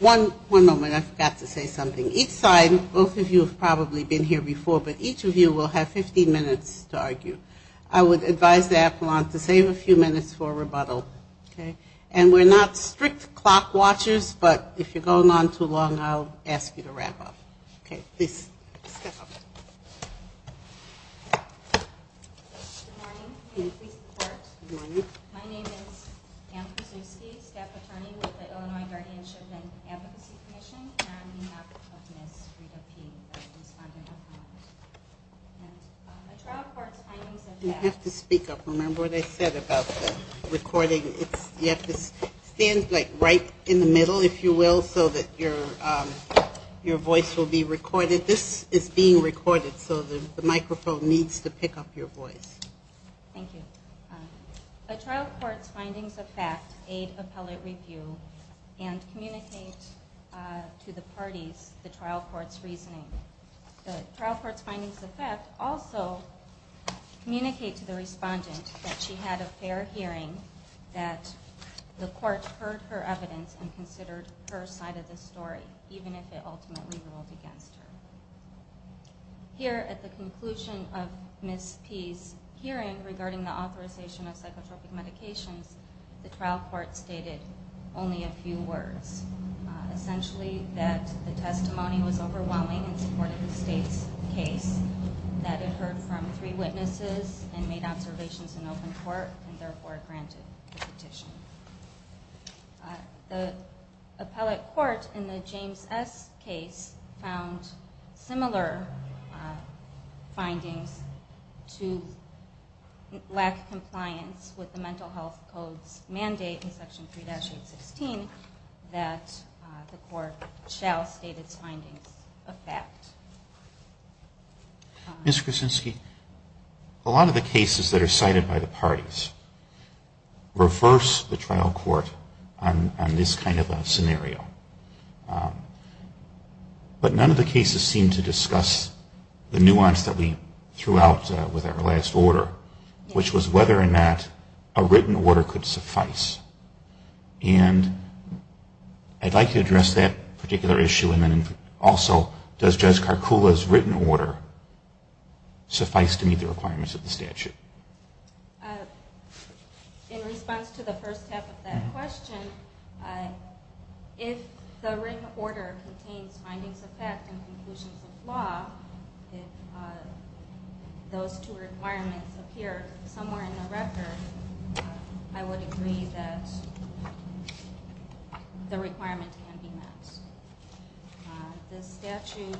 One moment. I forgot to say something. Each side, both of you have probably been here before, but each of you will have 15 minutes to argue. I would advise the appellant to save a few minutes for rebuttal. Okay? And we're not strict clock watchers, but if you're going on too long, I'll ask you to wrap up. Okay? Please step up. Good morning, and please report. My name is Ann Krasiewski, staff attorney with the Illinois Guardianship and Advocacy Commission, and I'm on behalf of Ms. Rita P. You have to speak up. Remember what I said about the recording. You have to stand right in the middle, if you will, so that your voice will be recorded. This is being recorded, so the microphone needs to pick up your voice. Thank you. A trial court's findings of fact aid appellate review and communicate to the parties the trial court's reasoning. The trial court's findings of fact also communicate to the respondent that she had a fair hearing, that the court heard her evidence and considered her side of the story, even if it ultimately ruled against her. Here at the conclusion of Ms. P.'s hearing regarding the authorization of psychotropic medications, the trial court stated only a few words. Essentially that the testimony was overwhelming in support of the state's case, that it heard from three witnesses and made observations in open court, and therefore granted the petition. The appellate court in the James S. case found similar findings to lack compliance with the Mental Health Code's mandate in Section 3-816 that the court shall state its findings of fact. Ms. Kuczynski, a lot of the cases that are cited by the parties reverse the trial court on this kind of a scenario. But none of the cases seem to discuss the nuance that we threw out with our last order, which was whether or not a written order could suffice. And I'd like to address that particular issue, and then also does Judge Karkula's written order suffice to meet the requirements of the statute? In response to the first half of that question, if the written order contains findings of fact and conclusions of law, if those two requirements appear somewhere in the record, I would agree that the requirement can be met. This statute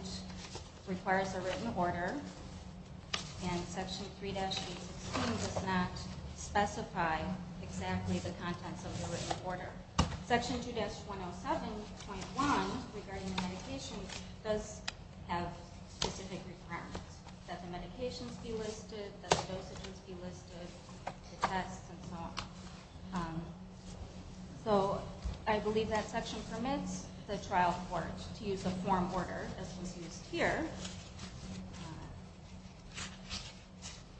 requires a written order, and Section 3-816 does not specify exactly the contents of the written order. Section 2-107.1 regarding the medication does have specific requirements. That the medications be listed, that the dosages be listed, the tests and so on. So I believe that section permits the trial court to use a form order, as was used here,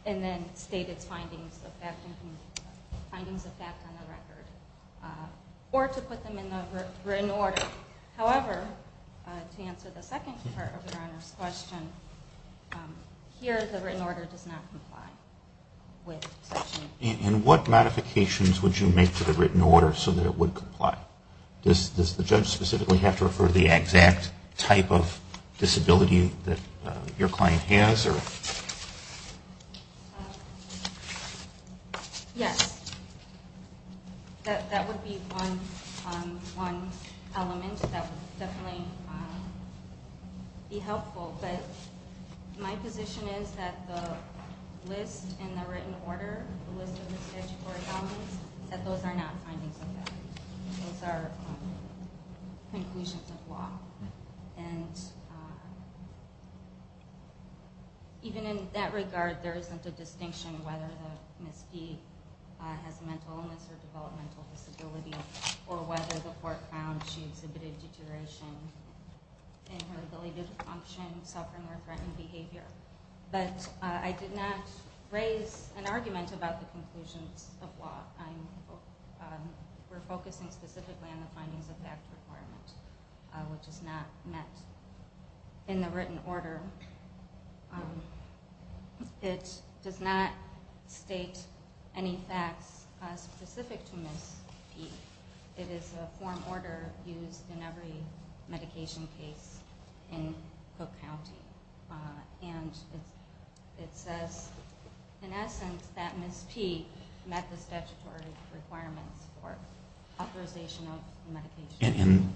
and then state its findings of fact on the record. Or to put them in the written order. However, to answer the second part of Your Honor's question, here the written order does not comply with Section 3-816. And what modifications would you make to the written order so that it would comply? Does the judge specifically have to refer to the exact type of disability that your client has? Yes. That would be one element that would definitely be helpful. But my position is that the list in the written order, the list of the statutory elements, that those are not findings of fact. Those are conclusions of law. And even in that regard, there isn't a distinction whether Ms. P has a mental illness or developmental disability, or whether the court found she exhibited deterioration in her ability to function, suffering or threatened behavior. But I did not raise an argument about the conclusions of law. We're focusing specifically on the findings of fact requirement, which is not met in the written order. It does not state any facts specific to Ms. P. It is a form order used in every medication case in Cook County. And it says, in essence, that Ms. P met the statutory requirements for authorization of medication.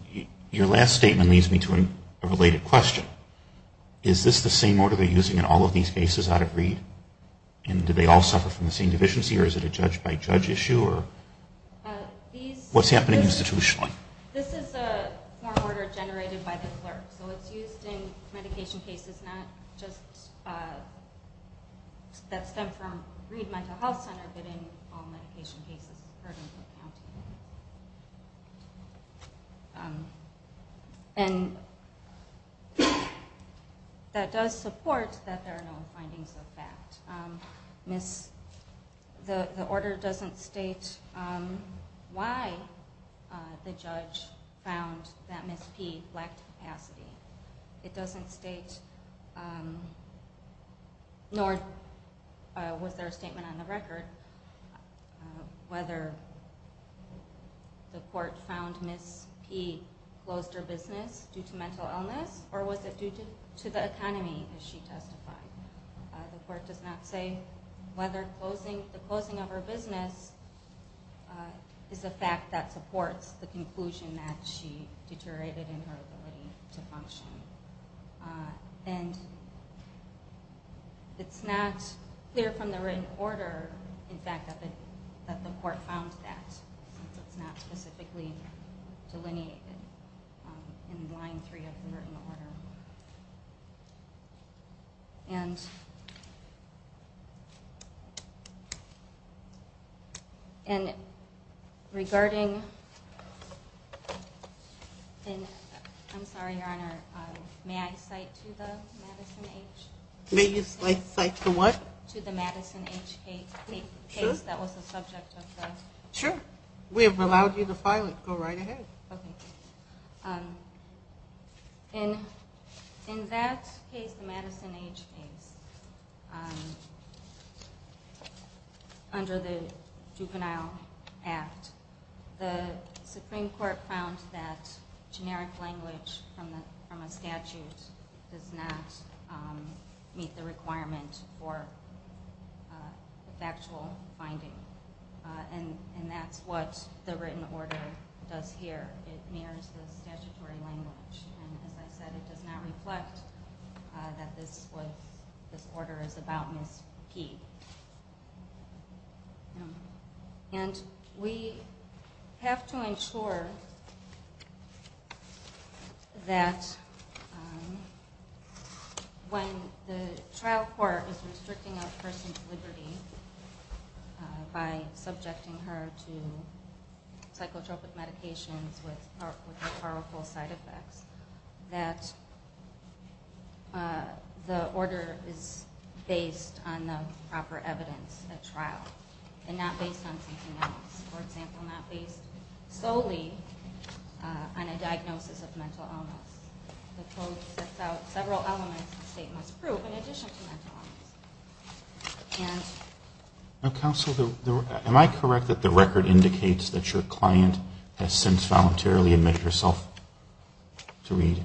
Your last statement leads me to a related question. Is this the same order they're using in all of these cases out of Reed? And do they all suffer from the same deficiency, or is it a judge-by-judge issue? What's happening institutionally? This is a form order generated by the clerk. So it's used in medication cases that stem from Reed Mental Health Center, but in all medication cases in Cook County. And that does support that there are no findings of fact. The order doesn't state why the judge found that Ms. P lacked capacity. It doesn't state, nor was there a statement on the record, whether the court found Ms. P closed her business due to mental illness, or was it due to the economy, as she testified. The court does not say whether the closing of her business is a fact that supports the conclusion that she deteriorated in her ability to function. And it's not clear from the written order, in fact, that the court found that. It's not specifically delineated in line three of the written order. And regarding... I'm sorry, Your Honor, may I cite to the Madison H. Case that was the subject of the... In that case, the Madison H. Case, under the Juvenile Act, the Supreme Court found that generic language from a statute does not meet the requirement for factual finding. And that's what the written order does here. It mirrors the statutory language. And as I said, it does not reflect that this order is about Ms. P. And we have to ensure that when the trial court is restricting a person's liberty by subjecting her to psychotropic medications with powerful side effects, that the order is based on the proper evidence at trial, and not based on something else. For example, not based solely on a diagnosis of mental illness. The code sets out several elements the state must prove in addition to mental illness. Counsel, am I correct that the record indicates that your client has since voluntarily admitted herself to read?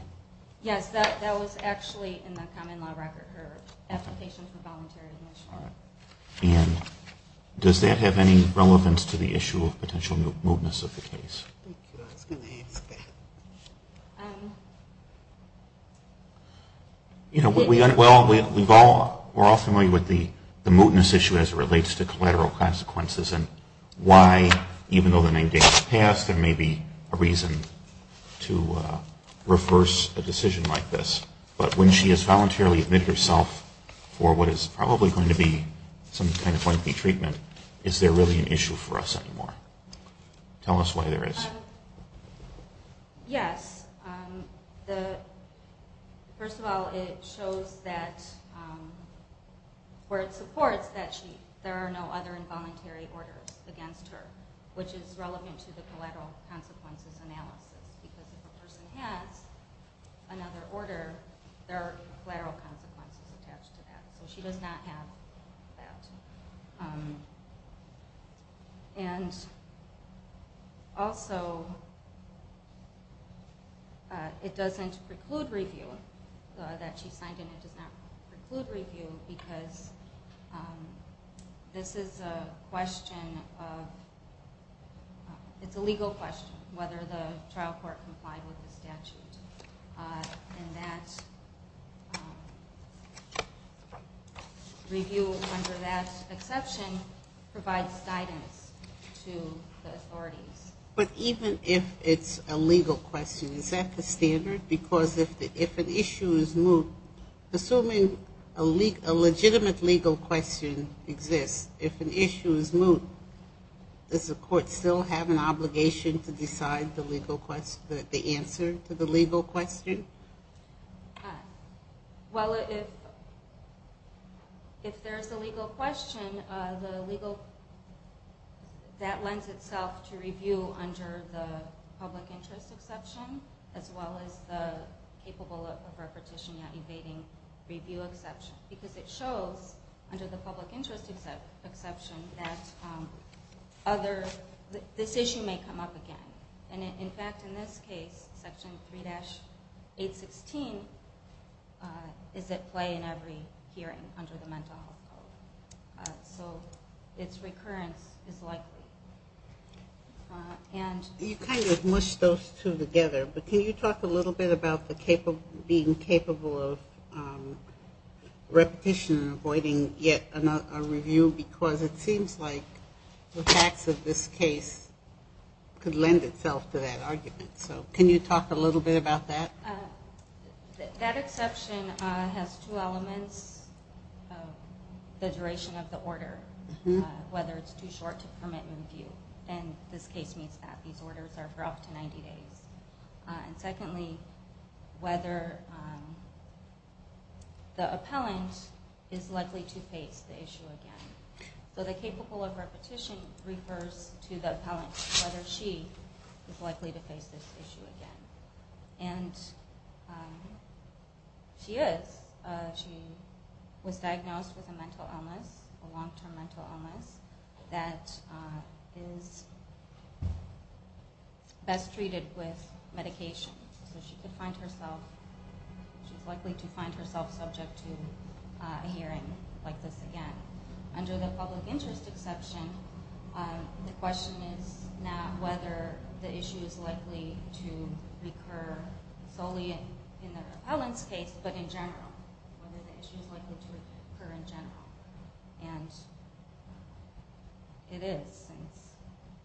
Yes, that was actually in the common law record, her application for voluntary admission. All right. And does that have any relevance to the issue of potential mootness of the case? I was going to ask that. Well, we're all familiar with the mootness issue as it relates to collateral consequences and why, even though the name date has passed, there may be a reason to reverse a decision like this. But when she has voluntarily admitted herself for what is probably going to be some kind of lengthy treatment, is there really an issue for us anymore? Tell us why there is. Yes. First of all, it shows that where it supports that there are no other involuntary orders against her, which is relevant to the collateral consequences analysis. Because if a person has another order, there are collateral consequences attached to that. So she does not have that. And also, it doesn't preclude review, that she signed in, it does not preclude review because this is a question of, it's a legal question, whether the trial court complied with the statute. And that review, under that exception, provides guidance to the authorities. But even if it's a legal question, is that the standard? Because if an issue is moot, assuming a legitimate legal question exists, if an issue is moot, does the court still have an obligation to decide the answer to the legal question? Well, if there's a legal question, that lends itself to review under the public interest exception, as well as the capable of repetition, not evading, review exception. Because it shows, under the public interest exception, that this issue may come up again. And in fact, in this case, Section 3-816 is at play in every hearing under the Mental Health Code. So its recurrence is likely. You kind of mushed those two together, but can you talk a little bit about being capable of repetition, avoiding yet a review, because it seems like the facts of this case could lend itself to that argument. So can you talk a little bit about that? That exception has two elements. The duration of the order, whether it's too short to permit review. And this case means that. These orders are for up to 90 days. And secondly, whether the appellant is likely to face the issue again. So the capable of repetition refers to the appellant, whether she is likely to face this issue again. And she is. She was diagnosed with a mental illness, a long-term mental illness, that is best treated with medication. So she is likely to find herself subject to a hearing like this again. Under the public interest exception, the question is not whether the issue is likely to recur solely in the appellant's case, but in general. Whether the issue is likely to recur in general. And it is, since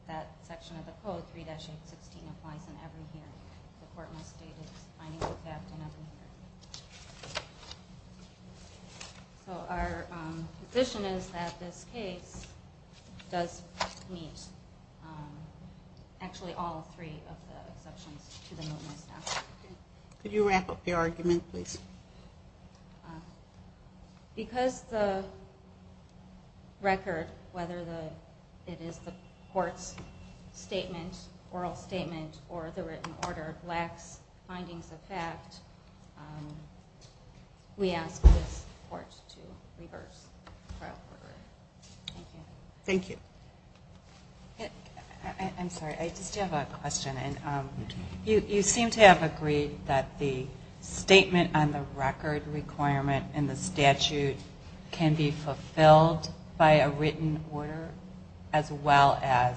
that section of the code, 3-816, applies in every hearing. The court must state it's finding the captain every hearing. So our position is that this case does meet actually all three of the exceptions to the movement statute. Could you wrap up your argument, please? Because the record, whether it is the court's statement, oral statement, or the written order, lacks findings of fact, we ask this court to reverse the trial record. Thank you. I'm sorry, I just have a question. You seem to have agreed that the statement on the record requirement in the statute can be fulfilled by a written order, as well as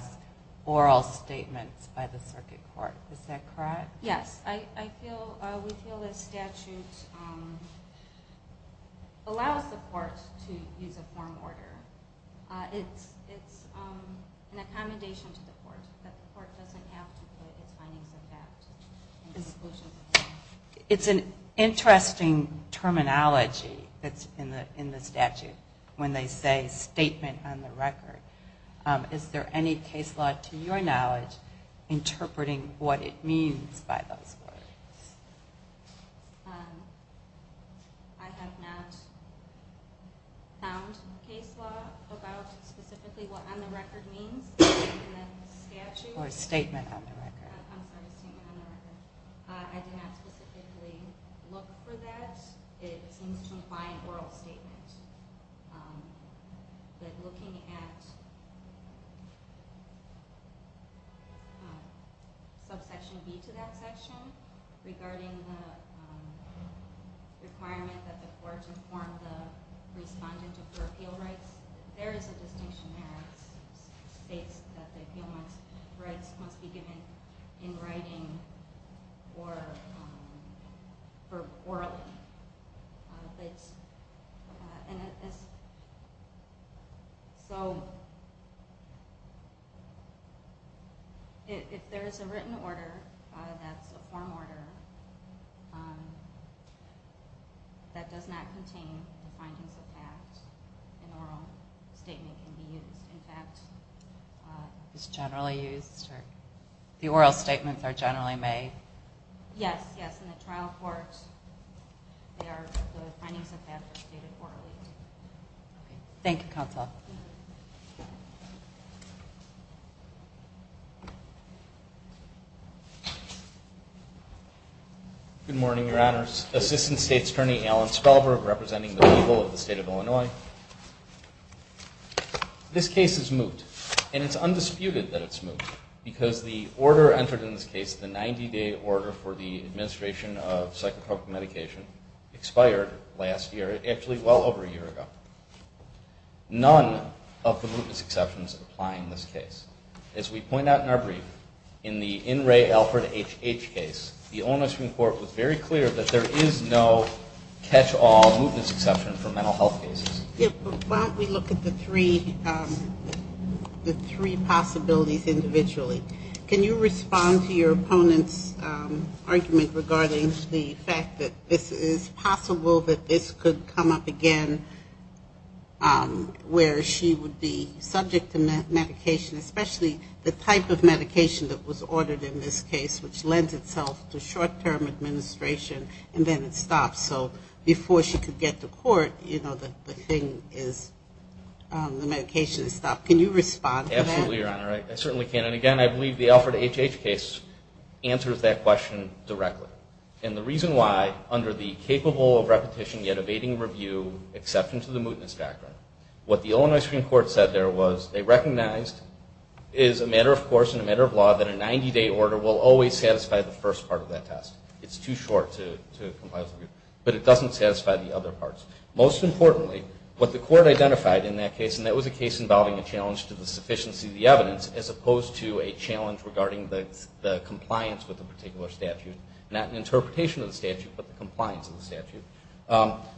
oral statements by the circuit court. Is that correct? Yes. We feel the statute allows the court to use a form order. It's an accommodation to the court. The court doesn't have to put its findings of fact. It's an interesting terminology that's in the statute, when they say statement on the record. Is there any case law, to your knowledge, interpreting what it means by those words? I have not found case law about specifically what on the record means in the statute. Or statement on the record. I'm sorry, statement on the record. I did not specifically look for that. It seems to imply an oral statement. But looking at subsection B to that section, regarding the requirement that the court inform the respondent of their appeal rights, there is a distinction there. It states that the appeal rights must be given in writing or orally. So, if there is a written order, that's a form order, that does not contain the findings of fact, an oral statement can be used. It's generally used? The oral statements are generally made? Yes, yes. In the trial courts, the findings of fact are stated orally. Thank you, counsel. Good morning, your honors. Assistant State's Attorney Alan Spellberg, representing the legal of the state of Illinois. This case is moot. And it's undisputed that it's moot. Because the order entered in this case, the 90-day order for the administration of psychotropic medication, expired last year. Actually, well over a year ago. None of the mootness exceptions apply in this case. As we point out in our brief, in the In Re Alford HH case, the Illinois Supreme Court was very clear that there is no catch-all mootness exception for mental health cases. Why don't we look at the three possibilities individually. Can you respond to your opponent's argument regarding the fact that this is possible that this could come up again where she would be subject to medication, especially the type of medication that was ordered in this case, which lends itself to short-term administration, and then it stops. So before she could get to court, you know, the thing is, the medication is stopped. Can you respond to that? I certainly can. And again, I believe the Alford HH case answers that question directly. And the reason why, under the capable of repetition yet evading review exception to the mootness factor, what the Illinois Supreme Court said there was they recognized, as a matter of course and a matter of law, that a 90-day order will always satisfy the first part of that test. It's too short to comply with the review. But it doesn't satisfy the other parts. Most importantly, what the court identified in that case, and that was a case involving a challenge to the sufficiency of the evidence as opposed to a challenge regarding the compliance with a particular statute, not an interpretation of the statute, but the compliance of the statute.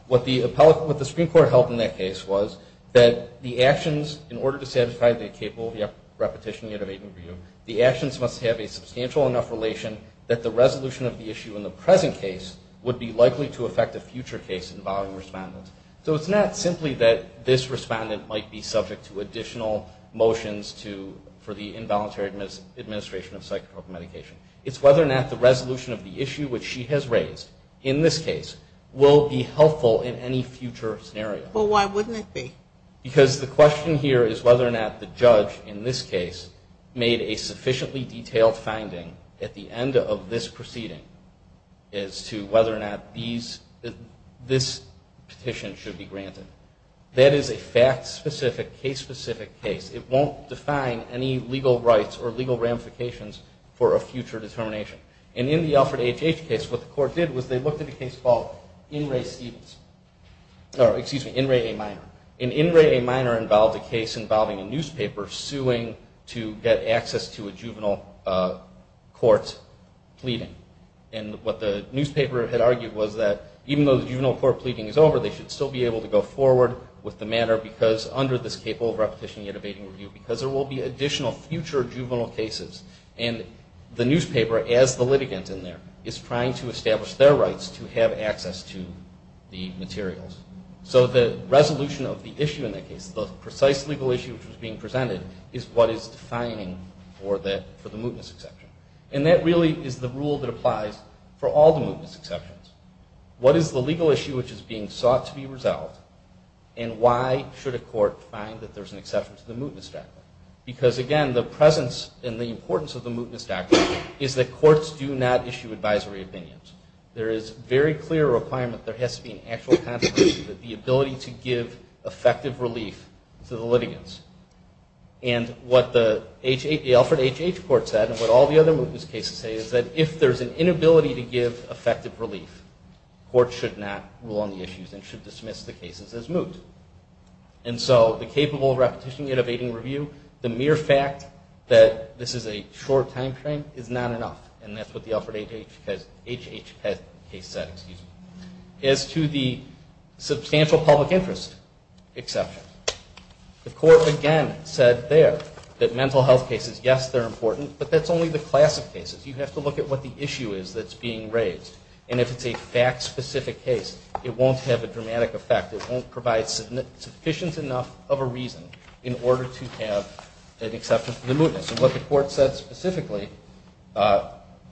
What the Supreme Court held in that case was that the actions, in order to satisfy the capable of repetition yet evading review, the actions must have a substantial enough relation that the resolution of the issue in the present case would be likely to affect a future case involving respondents. So it's not simply that this respondent might be subject to additional motions for the involuntary administration of psychotropic medication. It's whether or not the resolution of the issue, which she has raised in this case, will be helpful in any future scenario. But why wouldn't it be? Because the question here is whether or not the judge, in this case, made a sufficiently detailed finding at the end of this proceeding as to whether or not this petition should be granted. That is a fact-specific, case-specific case. It won't define any legal rights or legal ramifications for a future determination. And in the Alfred H. H. case, what the court did was they looked at a case called In re A Minor. And In re A Minor involved a case involving a newspaper suing to get access to a juvenile court pleading. And what the newspaper had argued was that even though the juvenile court pleading is over, they should still be able to go forward with the matter, because under this capable of repetition yet evading review, because there will be additional future juvenile cases. And the newspaper, as the litigant in there, is trying to establish their rights to have access to the materials. So the resolution of the issue in that case, the precise legal issue which was being presented, is what is defining for the mootness exception. And that really is the rule that applies for all the mootness exceptions. What is the legal issue which is being sought to be resolved, and why should a court find that there's an exception to the mootness doctrine? Because, again, the presence and the importance of the mootness doctrine is that courts do not issue advisory opinions. There is very clear requirement that there has to be an actual contradiction, that the ability to give effective relief to the litigants. And what the Alfred H. H. Court said, and what all the other mootness cases say, is that if there's an inability to give effective relief, courts should not rule on the issues and should dismiss the cases as moot. And so the capable of repetition yet evading review, the mere fact that this is a short time frame is not enough. And that's what the Alfred H. H. case said. As to the substantial public interest exception, the court again said there that mental health cases, yes, they're important, but that's only the classic cases. You have to look at what the issue is that's being raised. And if it's a fact-specific case, it won't have a dramatic effect. It won't provide sufficient enough of a reason in order to have an exception for the mootness. And what the court said specifically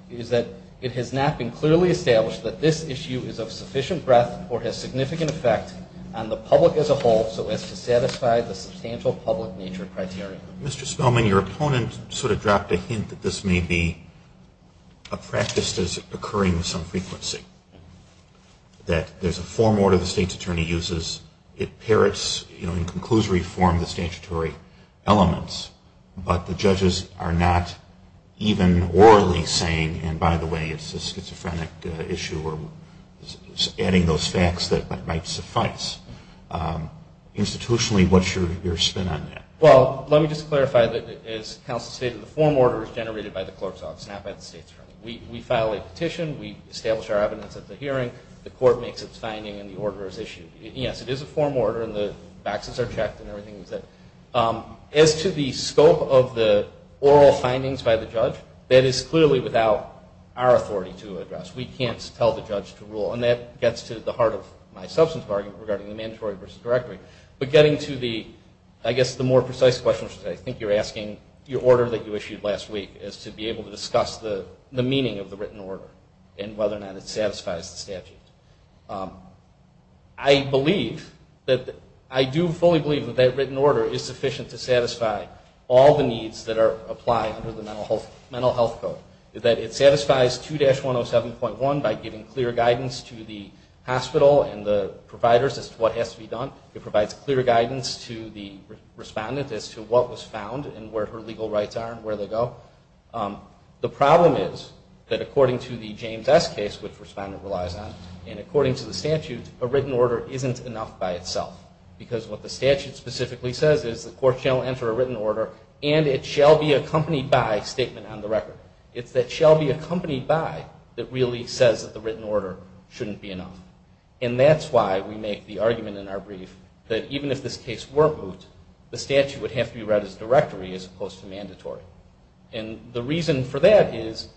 is that it has not been clearly established that this issue is of sufficient breadth or has significant effect on the public as a whole so as to satisfy the substantial public nature criteria. Mr. Spillman, your opponent sort of dropped a hint that this may be a practice that is occurring with some frequency, that there's a form order the state's attorney uses. It parrots in conclusory form the statutory elements, but the judges are not even orally saying, and by the way, it's a schizophrenic issue, or adding those facts that might suffice. Institutionally, what's your spin on that? Well, let me just clarify that as counsel stated, the form order is generated by the clerk's office, not by the state's attorney. We file a petition, we establish our evidence at the hearing, the court makes its finding, and the order is issued. Yes, it is a form order, and the faxes are checked, and everything is set. As to the scope of the oral findings by the judge, that is clearly without our authority to address. We can't tell the judge to rule, and that gets to the heart of my substantive argument regarding the mandatory versus directory. But getting to the, I guess, the more precise question, which I think you're asking your order that you issued last week, is to be able to discuss the meaning of the written order and whether or not it satisfies the statute. I believe that, I do fully believe that that written order is sufficient to satisfy all the needs that apply under the mental health code. That it satisfies 2-107.1 by giving clear guidance to the hospital and the providers as to what has to be done. It provides clear guidance to the respondent as to what was found and where her legal rights are and where they go. The problem is that according to the James S. case, which the respondent relies on, and according to the statute, a written order isn't enough by itself. Because what the statute specifically says is, the court shall enter a written order, and it shall be accompanied by statement on the record. It's that shall be accompanied by that really says that the written order shouldn't be enough. And that's why we make the argument in our brief that even if this case were moved, the statute would have to be read as directory as opposed to mandatory. And the reason for that is,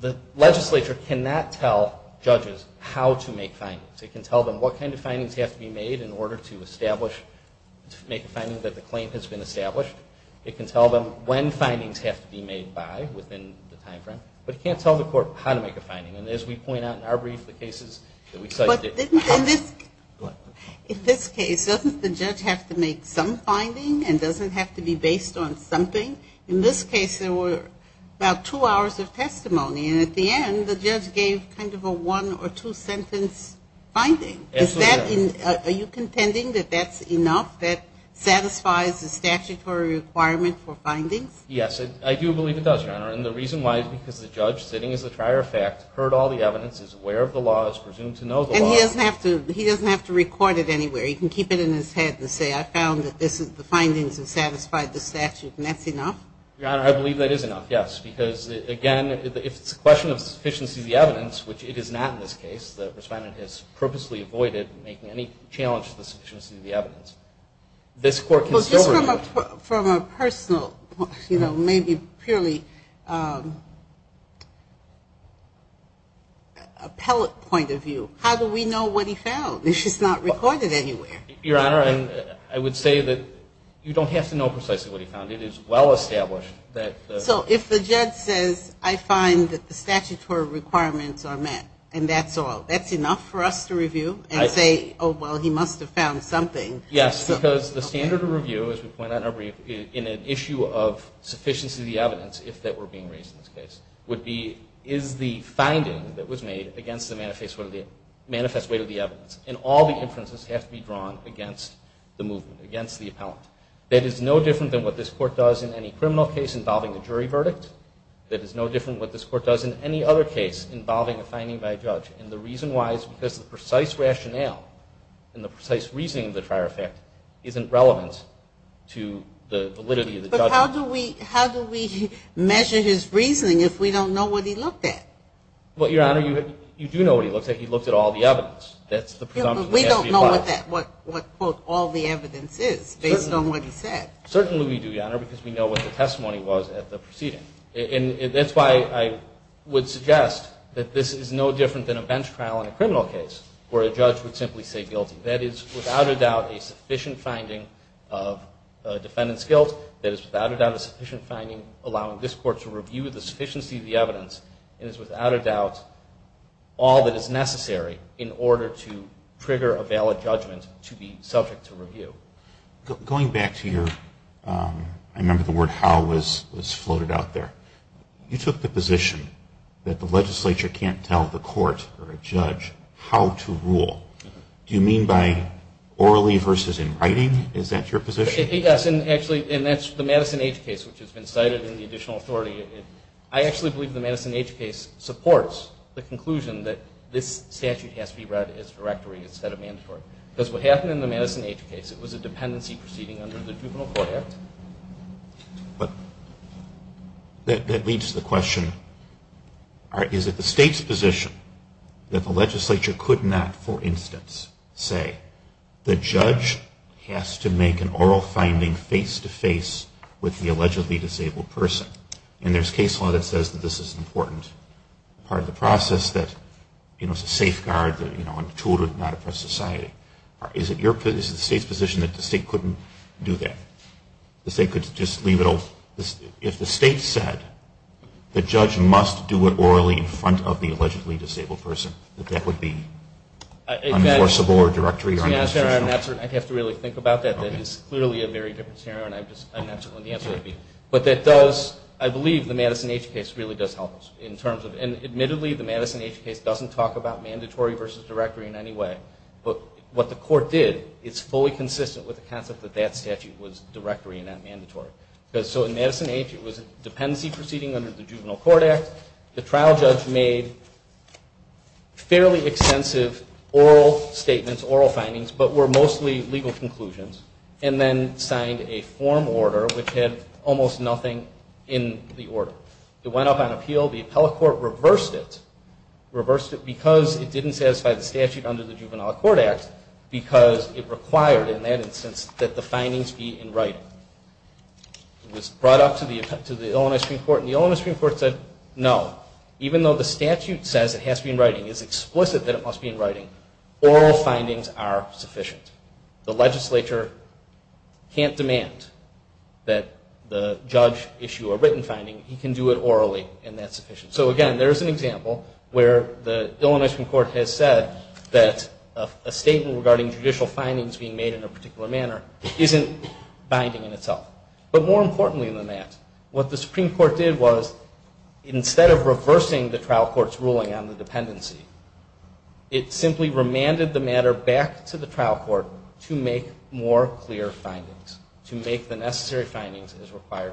the legislature cannot tell judges how to make findings. It can tell them what kind of findings have to be made in order to establish, to make a finding that the claim has been established. It can tell them when findings have to be made by within the time frame. But it can't tell the court how to make a finding. And as we point out in our brief, the cases that we cite... In this case, doesn't the judge have to make some finding and doesn't have to be based on something? In this case, there were about two hours of testimony. And at the end, the judge gave kind of a one or two sentence finding. Are you contending that that's enough, that satisfies the statutory requirement for findings? Yes, I do believe it does, Your Honor. And the reason why is because the judge, sitting as a prior fact, heard all the evidence, is aware of the law, is presumed to know the law... He doesn't have to record it anywhere. He can keep it in his head and say, I found that the findings have satisfied the statute, and that's enough? Your Honor, I believe that is enough, yes. Because, again, if it's a question of sufficiency of the evidence, which it is not in this case, the respondent has purposely avoided making any challenge to the sufficiency of the evidence. This court can still... Well, just from a personal, you know, maybe purely appellate point of view, how do we know what he found if it's not recorded anywhere? Your Honor, I would say that you don't have to know precisely what he found. It is well established that... So if the judge says, I find that the statutory requirements are met, and that's all, that's enough for us to review and say, oh, well, he must have found something? Yes, because the standard of review, as we point out in our brief, in an issue of sufficiency of the evidence, if that were being raised in this case, is the finding that was made against the manifest weight of the evidence. And all the inferences have to be drawn against the movement, against the appellant. That is no different than what this court does in any criminal case involving a jury verdict. That is no different than what this court does in any other case involving a finding by a judge. And the reason why is because the precise rationale and the precise reasoning of the prior effect isn't relevant to the validity of the judgment. But how do we measure his reasoning if we don't know what he looked at? Well, Your Honor, you do know what he looked at. He looked at all the evidence. We don't know what all the evidence is based on what he said. Certainly we do, Your Honor, because we know what the testimony was at the proceeding. And that's why I would suggest that this is no different than a bench trial in a criminal case where a judge would simply say guilty. That is, without a doubt, a sufficient finding of defendant's guilt. That is, without a doubt, a sufficient finding allowing this court to review the sufficiency of the evidence. And it's, without a doubt, all that is necessary in order to trigger a valid judgment to be subject to review. Going back to your, I remember the word how was floated out there. You took the position that the legislature can't tell the court or a judge how to rule. Do you mean by orally versus in writing? Is that your position? Yes. And actually, and that's the Madison H case, which has been cited in the additional authority. I actually believe the Madison H case supports the conclusion that this statute has to be read as directory instead of mandatory. Because what happened in the Madison H case, it was a dependency proceeding under the Juvenile Court Act. But that leads to the question, is it the state's position that the legislature could not, for instance, say the judge has to make an oral finding face-to-face with the allegedly disabled person? And there's case law that says that this is an important part of the process that, you know, is a safeguard, you know, a tool to not oppress society. Is it the state's position that the state couldn't do that? The state could just leave it all? If the state said the judge must do it orally in front of the allegedly disabled person, that that would be enforceable or directory or unconstitutional? I'd have to really think about that. That is clearly a very different scenario, and I'm not sure what the answer would be. But that does, I believe the Madison H case really does help us in terms of, and admittedly the Madison H case doesn't talk about mandatory versus directory in any way. But what the court did, it's fully consistent with the concept that that statute was directory and not mandatory. So in Madison H, it was a dependency proceeding under the Juvenile Court Act. The trial judge made fairly extensive oral statements, oral findings, but were mostly legal conclusions, and then signed a form order which had almost nothing in the order. It went up on appeal. The appellate court reversed it, reversed it because it didn't satisfy the statute under the Juvenile Court Act because it required, in that instance, that the findings be in writing. It was brought up to the Illinois Supreme Court, and the Illinois Supreme Court said no. Even though the statute says it has to be in writing, it's explicit that it must be in writing, oral findings are sufficient. The legislature can't demand that the judge issue a written finding. He can do it orally, and that's sufficient. So, again, there's an example where the Illinois Supreme Court has said that a statement regarding judicial findings being made in a particular manner isn't binding in itself. But more importantly than that, what the Supreme Court did was, instead of reversing the trial court's ruling on the dependency, it simply remanded the matter back to the trial court to make more clear findings, to make the necessary findings as required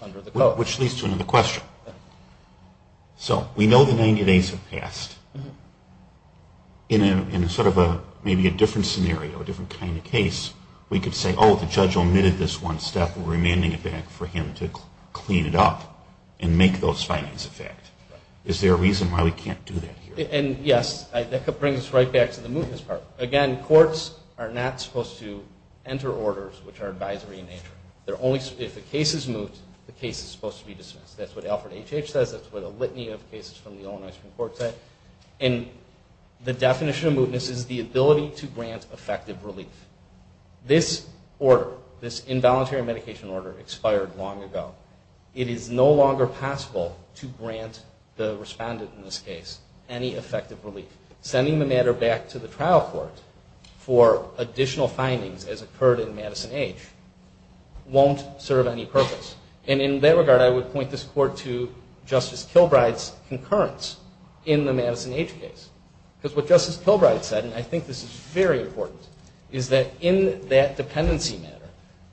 under the code. Which leads to another question. So we know the 90 days have passed. In sort of maybe a different scenario, a different kind of case, we could say, oh, the judge omitted this one step, we're remanding it back for him to clean it up and make those findings a fact. Is there a reason why we can't do that here? And, yes, that brings us right back to the movements part. Again, courts are not supposed to enter orders which are advisory in nature. If a case is moot, the case is supposed to be dismissed. That's what Alfred H.H. says. That's what a litany of cases from the Illinois Supreme Court say. And the definition of mootness is the ability to grant effective relief. This order, this involuntary medication order, expired long ago. It is no longer possible to grant the respondent in this case any effective relief. Sending the matter back to the trial court for additional findings, as occurred in Madison H., won't serve any purpose. And in that regard, I would point this court to Justice Kilbride's concurrence in the Madison H. case. Because what Justice Kilbride said, and I think this is very important, is that in that dependency matter,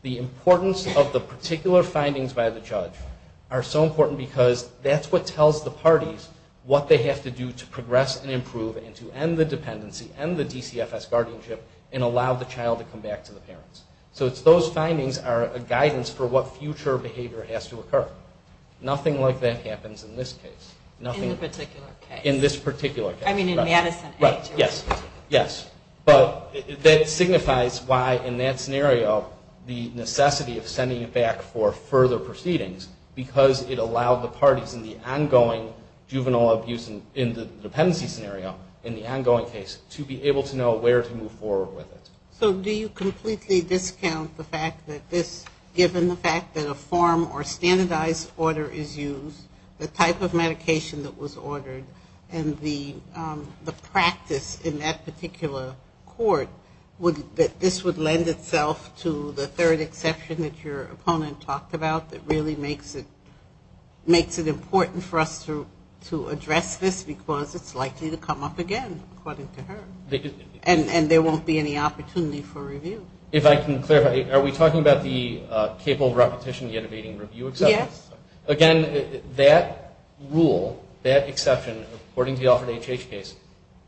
the importance of the particular findings by the judge are so important because that's what tells the parties what they have to do to progress and improve and to end the dependency, end the DCFS guardianship, and allow the child to come back to the parents. So it's those findings are a guidance for what future behavior has to occur. Nothing like that happens in this case. In the particular case. In this particular case. I mean in Madison H. Yes. Yes. But that signifies why in that scenario the necessity of sending it back for further proceedings, because it allowed the parties in the ongoing juvenile abuse in the dependency scenario in the ongoing case to be able to know where to move forward with it. So do you completely discount the fact that this, given the fact that a form or standardized order is used, the type of medication that was ordered, and the practice in that particular court, that this would lend itself to the third exception that your opponent talked about that really makes it important for us to address this, because it's likely to come up again, according to her. And there won't be any opportunity for review. If I can clarify, are we talking about the capable repetition yet evading review exception? Yes. Again, that rule, that exception, according to the Alfred H.H. case,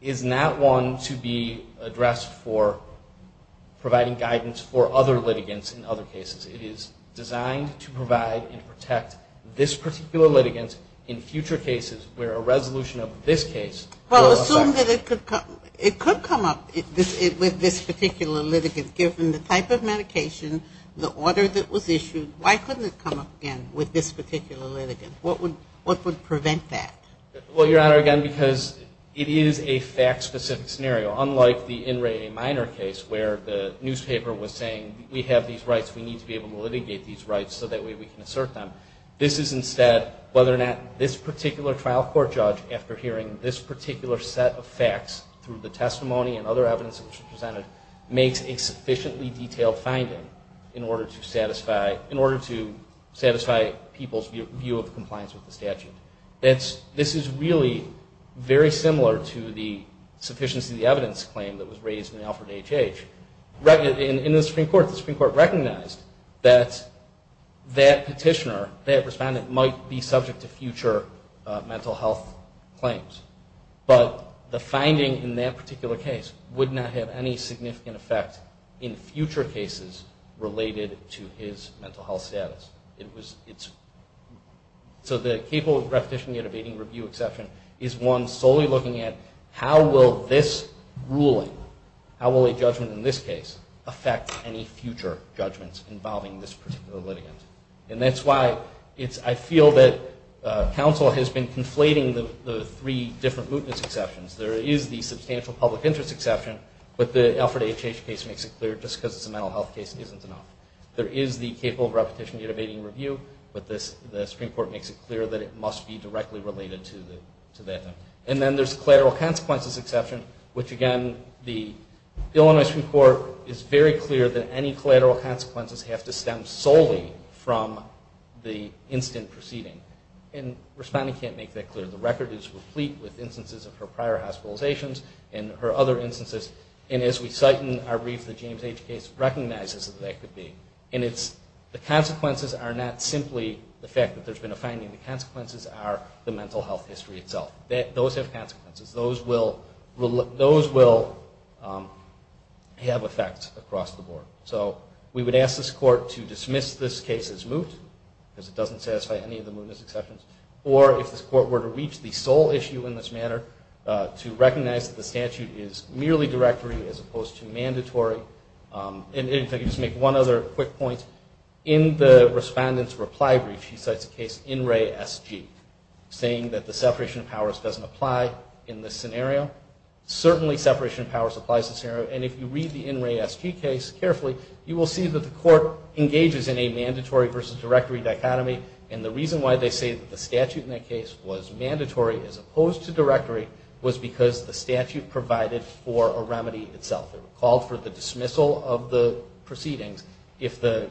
is not one to be addressed for providing guidance for other litigants in other cases. It is designed to provide and protect this particular litigant in future cases where a resolution of this case. Well, assume that it could come up with this particular litigant, given the type of medication, the order that was issued. Why couldn't it come up again with this particular litigant? What would prevent that? Well, Your Honor, again, because it is a fact-specific scenario, unlike the In Re Minor case where the newspaper was saying, we have these rights, we need to be able to litigate these rights so that way we can assert them. This is instead whether or not this particular trial court judge, after hearing this particular set of facts through the testimony and other evidence that was presented, makes a sufficiently detailed finding in order to satisfy people's view of compliance with the statute. This is really very similar to the sufficiency of the evidence claim that was raised in the Alfred H.H. In the Supreme Court, the Supreme Court recognized that that petitioner, that respondent, might be subject to future mental health claims. But the finding in that particular case would not have any significant effect in future cases related to his mental health status. So the capable repetition gate abating review exception is one solely looking at how will this ruling, how will a judgment in this case affect any future judgments involving this particular litigant. And that's why I feel that counsel has been conflating the three different mootness exceptions. There is the substantial public interest exception, but the Alfred H.H. case makes it clear just because it's a mental health case isn't enough. There is the capable repetition gate abating review, but the Supreme Court makes it clear that it must be directly related to that. And then there's collateral consequences exception, which again the Illinois Supreme Court is very clear that any collateral consequences have to stem solely from the instant proceeding. And respondent can't make that clear. The record is replete with instances of her prior hospitalizations and her other instances. And as we cite in our brief, the James H. case recognizes that that could be. And the consequences are not simply the fact that there's been a finding. The consequences are the mental health history itself. Those have consequences. Those will have effects across the board. So we would ask this court to dismiss this case as moot, because it doesn't satisfy any of the mootness exceptions, or if this court were to reach the sole issue in this manner, to recognize that the statute is merely directory as opposed to mandatory. And if I could just make one other quick point. In the respondent's reply brief, she cites a case in Ray S.G. saying that the separation of powers doesn't apply in this scenario. Certainly separation of powers applies in this scenario. And if you read the N. Ray S.G. case carefully, you will see that the court engages in a mandatory versus directory dichotomy. And the reason why they say that the statute in that case was mandatory as opposed to directory was because the statute provided for a remedy itself. It called for the dismissal of the proceedings if the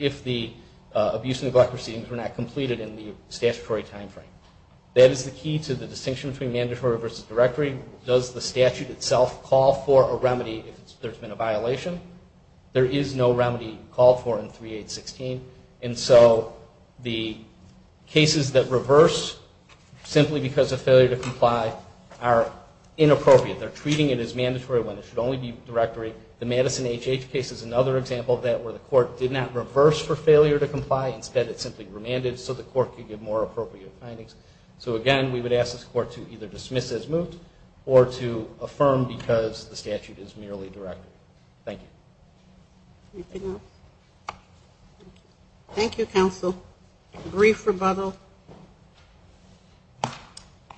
abuse and neglect of the proceedings were not completed in the statutory timeframe. That is the key to the distinction between mandatory versus directory. Does the statute itself call for a remedy if there's been a violation? There is no remedy called for in 3816. And so the cases that reverse simply because of failure to comply are inappropriate. They're treating it as mandatory when it should only be directory. The Madison H.H. case is another example of that where the court did not reverse for failure to comply. Instead, it simply remanded so the court could give more appropriate findings. So, again, we would ask this court to either dismiss as moot or to affirm because the statute is merely directory. Thank you. Anything else? Thank you, counsel. A brief rebuttal.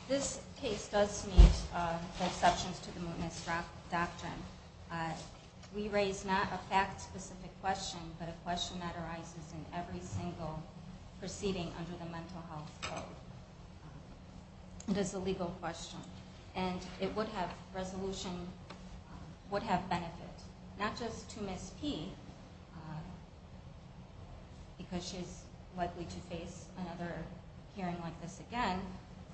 This case does meet the exceptions to the mootness doctrine. We raise not a fact-specific question but a question that arises in every single proceeding under the Mental Health Code. It is a legal question. And it would have resolution would have benefit, not just to Ms. P because she's likely to face another hearing like this again,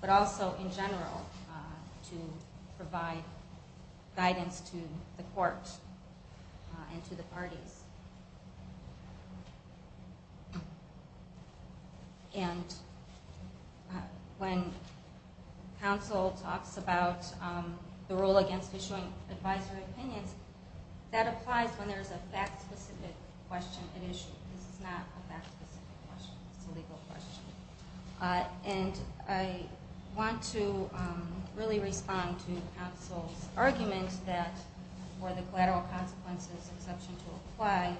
but also in general to provide guidance to the court and to the parties. And when counsel talks about the rule against issuing advisory opinions, that applies when there's a fact-specific question at issue. This is not a fact-specific question. It's a legal question. And I want to really respond to counsel's argument that for the collateral consequences exception to apply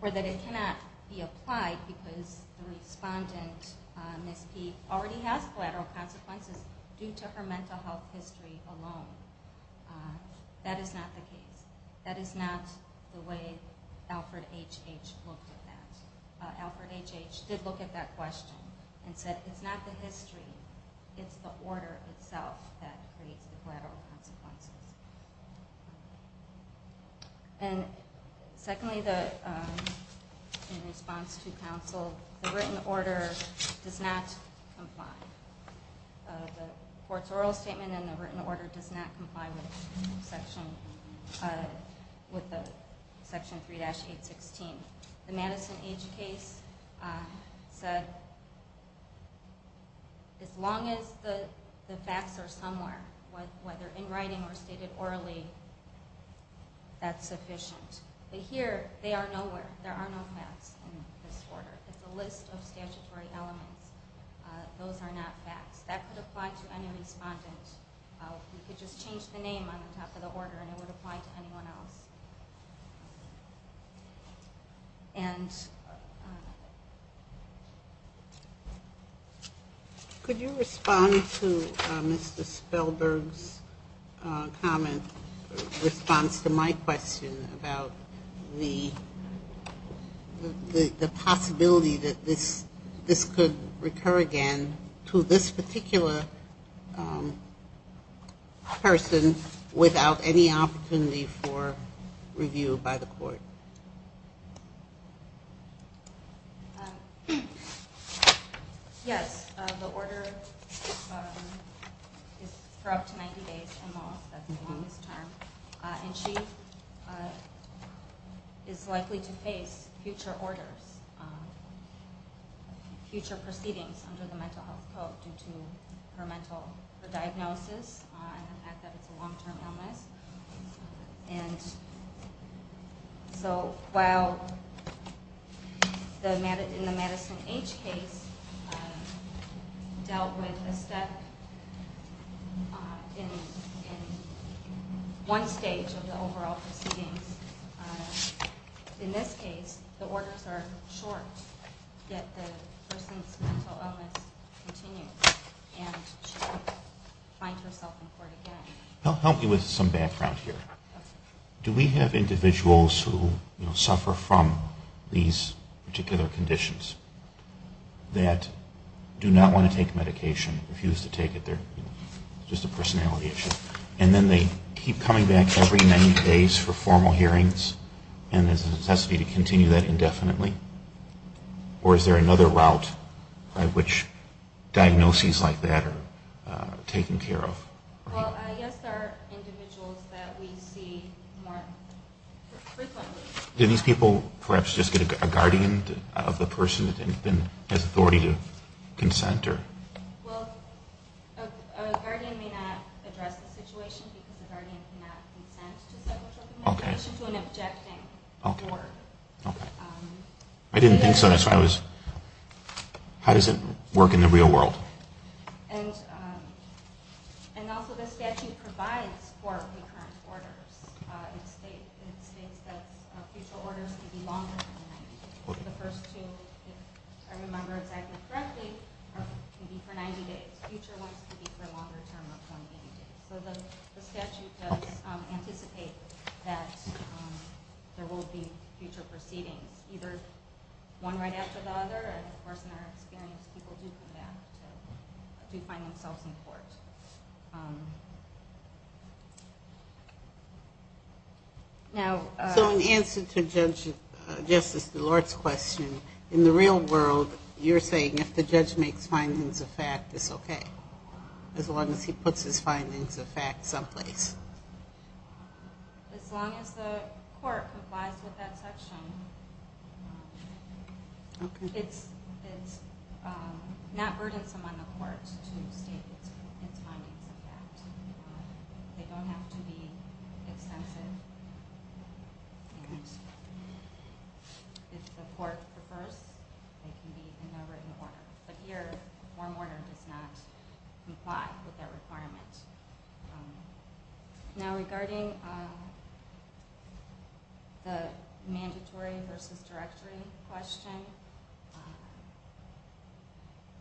or that it cannot be applied because the respondent, Ms. P, already has collateral consequences due to her mental health history alone. That is not the case. I think Alfred H.H. looked at that. Alfred H.H. did look at that question and said it's not the history, it's the order itself that creates the collateral consequences. And secondly, in response to counsel, the written order does not comply. The court's oral statement and the written order does not comply with the Section 3-816. The Madison H. case said as long as the facts are somewhere, whether in writing or stated orally, that's sufficient. But here they are nowhere. There are no facts in this order. It's a list of statutory elements. Those are not facts. That could apply to any respondent. We could just change the name on the top of the order and it would apply to anyone else. And. Could you respond to Mr. Spellberg's comment, response to my question about the possibility that this could recur again to this particular person without any opportunity for review by the court? Yes. The order is for up to 90 days in law. That's the longest term. And she is likely to face future orders, future proceedings under the Mental Health Code due to her mental diagnosis and the fact that it's a long-term illness. And so while in the Madison H. case dealt with a step in one stage of the overall proceedings, in this case the orders are short yet the person's mental illness continues and she will find herself in court again. Help me with some background here. Do we have individuals who suffer from these particular conditions that do not want to take medication, refuse to take it, just a personality issue, and then they keep coming back every 90 days for formal hearings and there's a necessity to continue that indefinitely? Or is there another route by which diagnoses like that are taken care of? Well, yes, there are individuals that we see more frequently. Do these people perhaps just get a guardian of the person that then has authority to consent or? Well, a guardian may not address the situation because a guardian cannot address it. I didn't think so. How does it work in the real world? And also the statute provides for recurrent orders. It states that future orders can be longer than 90 days. The first two, if I remember exactly correctly, can be for 90 days. Future ones can be for a longer term of 20 days. So the statute does anticipate that there will be future proceedings, either one right after the other. And, of course, in our experience, people do come back to find themselves in court. So in answer to Justice DeLort's question, in the real world, you're saying if the judge makes findings of fact, it's okay as long as he puts his findings of fact someplace? As long as the court complies with that section. It's not burdensome on the court to state its findings of fact. They don't have to be extensive. If the court prefers, they can be in no written order. But here, a form order does not comply with that requirement. Now regarding the mandatory versus directory question,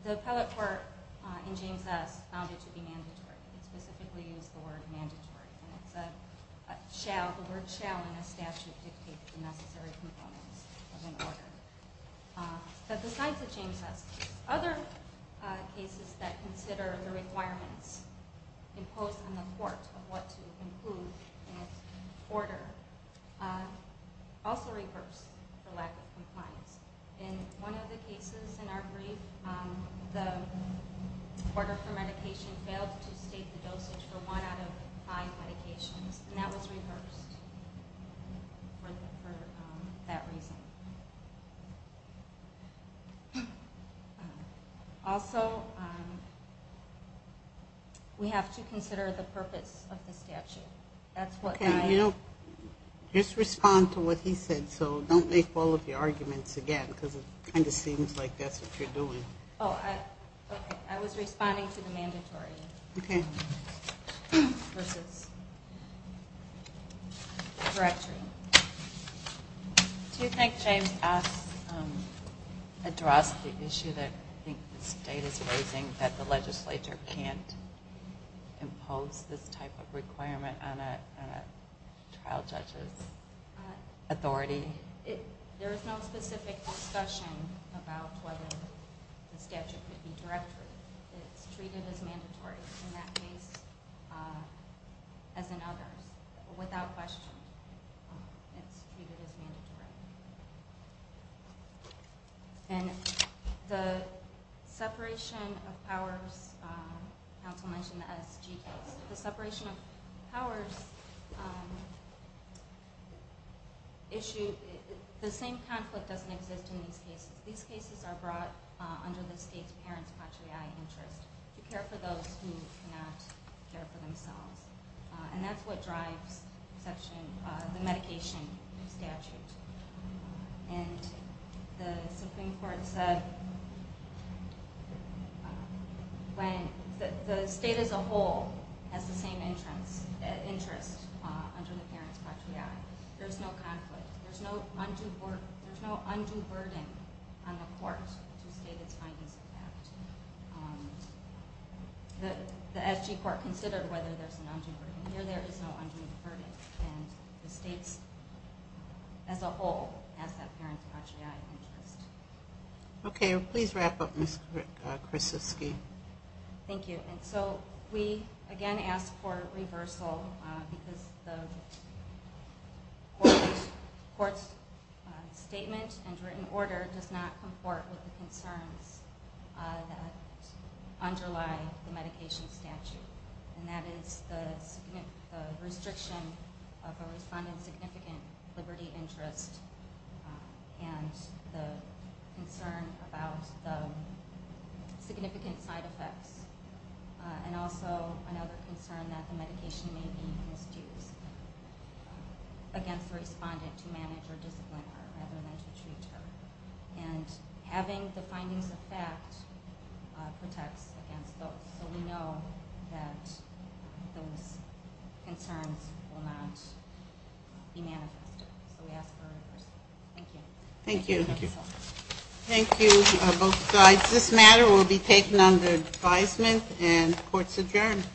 the appellate court in James S. found it to be mandatory. It specifically used the word mandatory. And it's a shall. The word shall in a statute dictates the necessary components of an order. But besides the James S. case, other cases that consider the requirements imposed on the court of what to include in its order also reverse the lack of compliance. In one of the cases in our brief, the order for medication failed to state the dosage for one out of five medications. And that was reversed for that reason. Also, we have to consider the purpose of the statute. Just respond to what he said. So don't make all of your arguments again because it kind of seems like that's what you're doing. I was responding to the mandatory versus directory. Do you think James S. addressed the issue that the state is raising that the legislature can't impose this type of requirement on a trial judge's authority? I think there is no specific discussion about whether the statute could be directory. It's treated as mandatory in that case as in others. Without question, it's treated as mandatory. And the separation of powers, counsel mentioned the S.G. case. The separation of powers issue, the same conflict doesn't exist in these cases. These cases are brought under the state's parents' patriae interest to care for those who cannot care for themselves. And that's what drives the medication statute. And the Supreme Court said the state as a whole has the same interest under the parents' patriae. There's no conflict. There's no undue burden on the court to state its findings of that. The S.G. court considered whether there's an undue burden. Here there is no undue burden. And the state as a whole has that parents' patriae interest. Okay. Please wrap up, Ms. Krasinski. Thank you. And so we, again, ask for reversal because the court's statement and written order does not comport with the concerns that underlie the medication statute. And that is the restriction of a respondent's significant liberty interest and the concern about the significant side effects. And also another concern that the medication may be misused against the respondent to manage or discipline her rather than to treat her. And having the findings of fact protects against both. So we know that those concerns will not be manifested. So we ask for reversal. Thank you. Thank you. Thank you both sides. This matter will be taken under advisement and court's adjourned.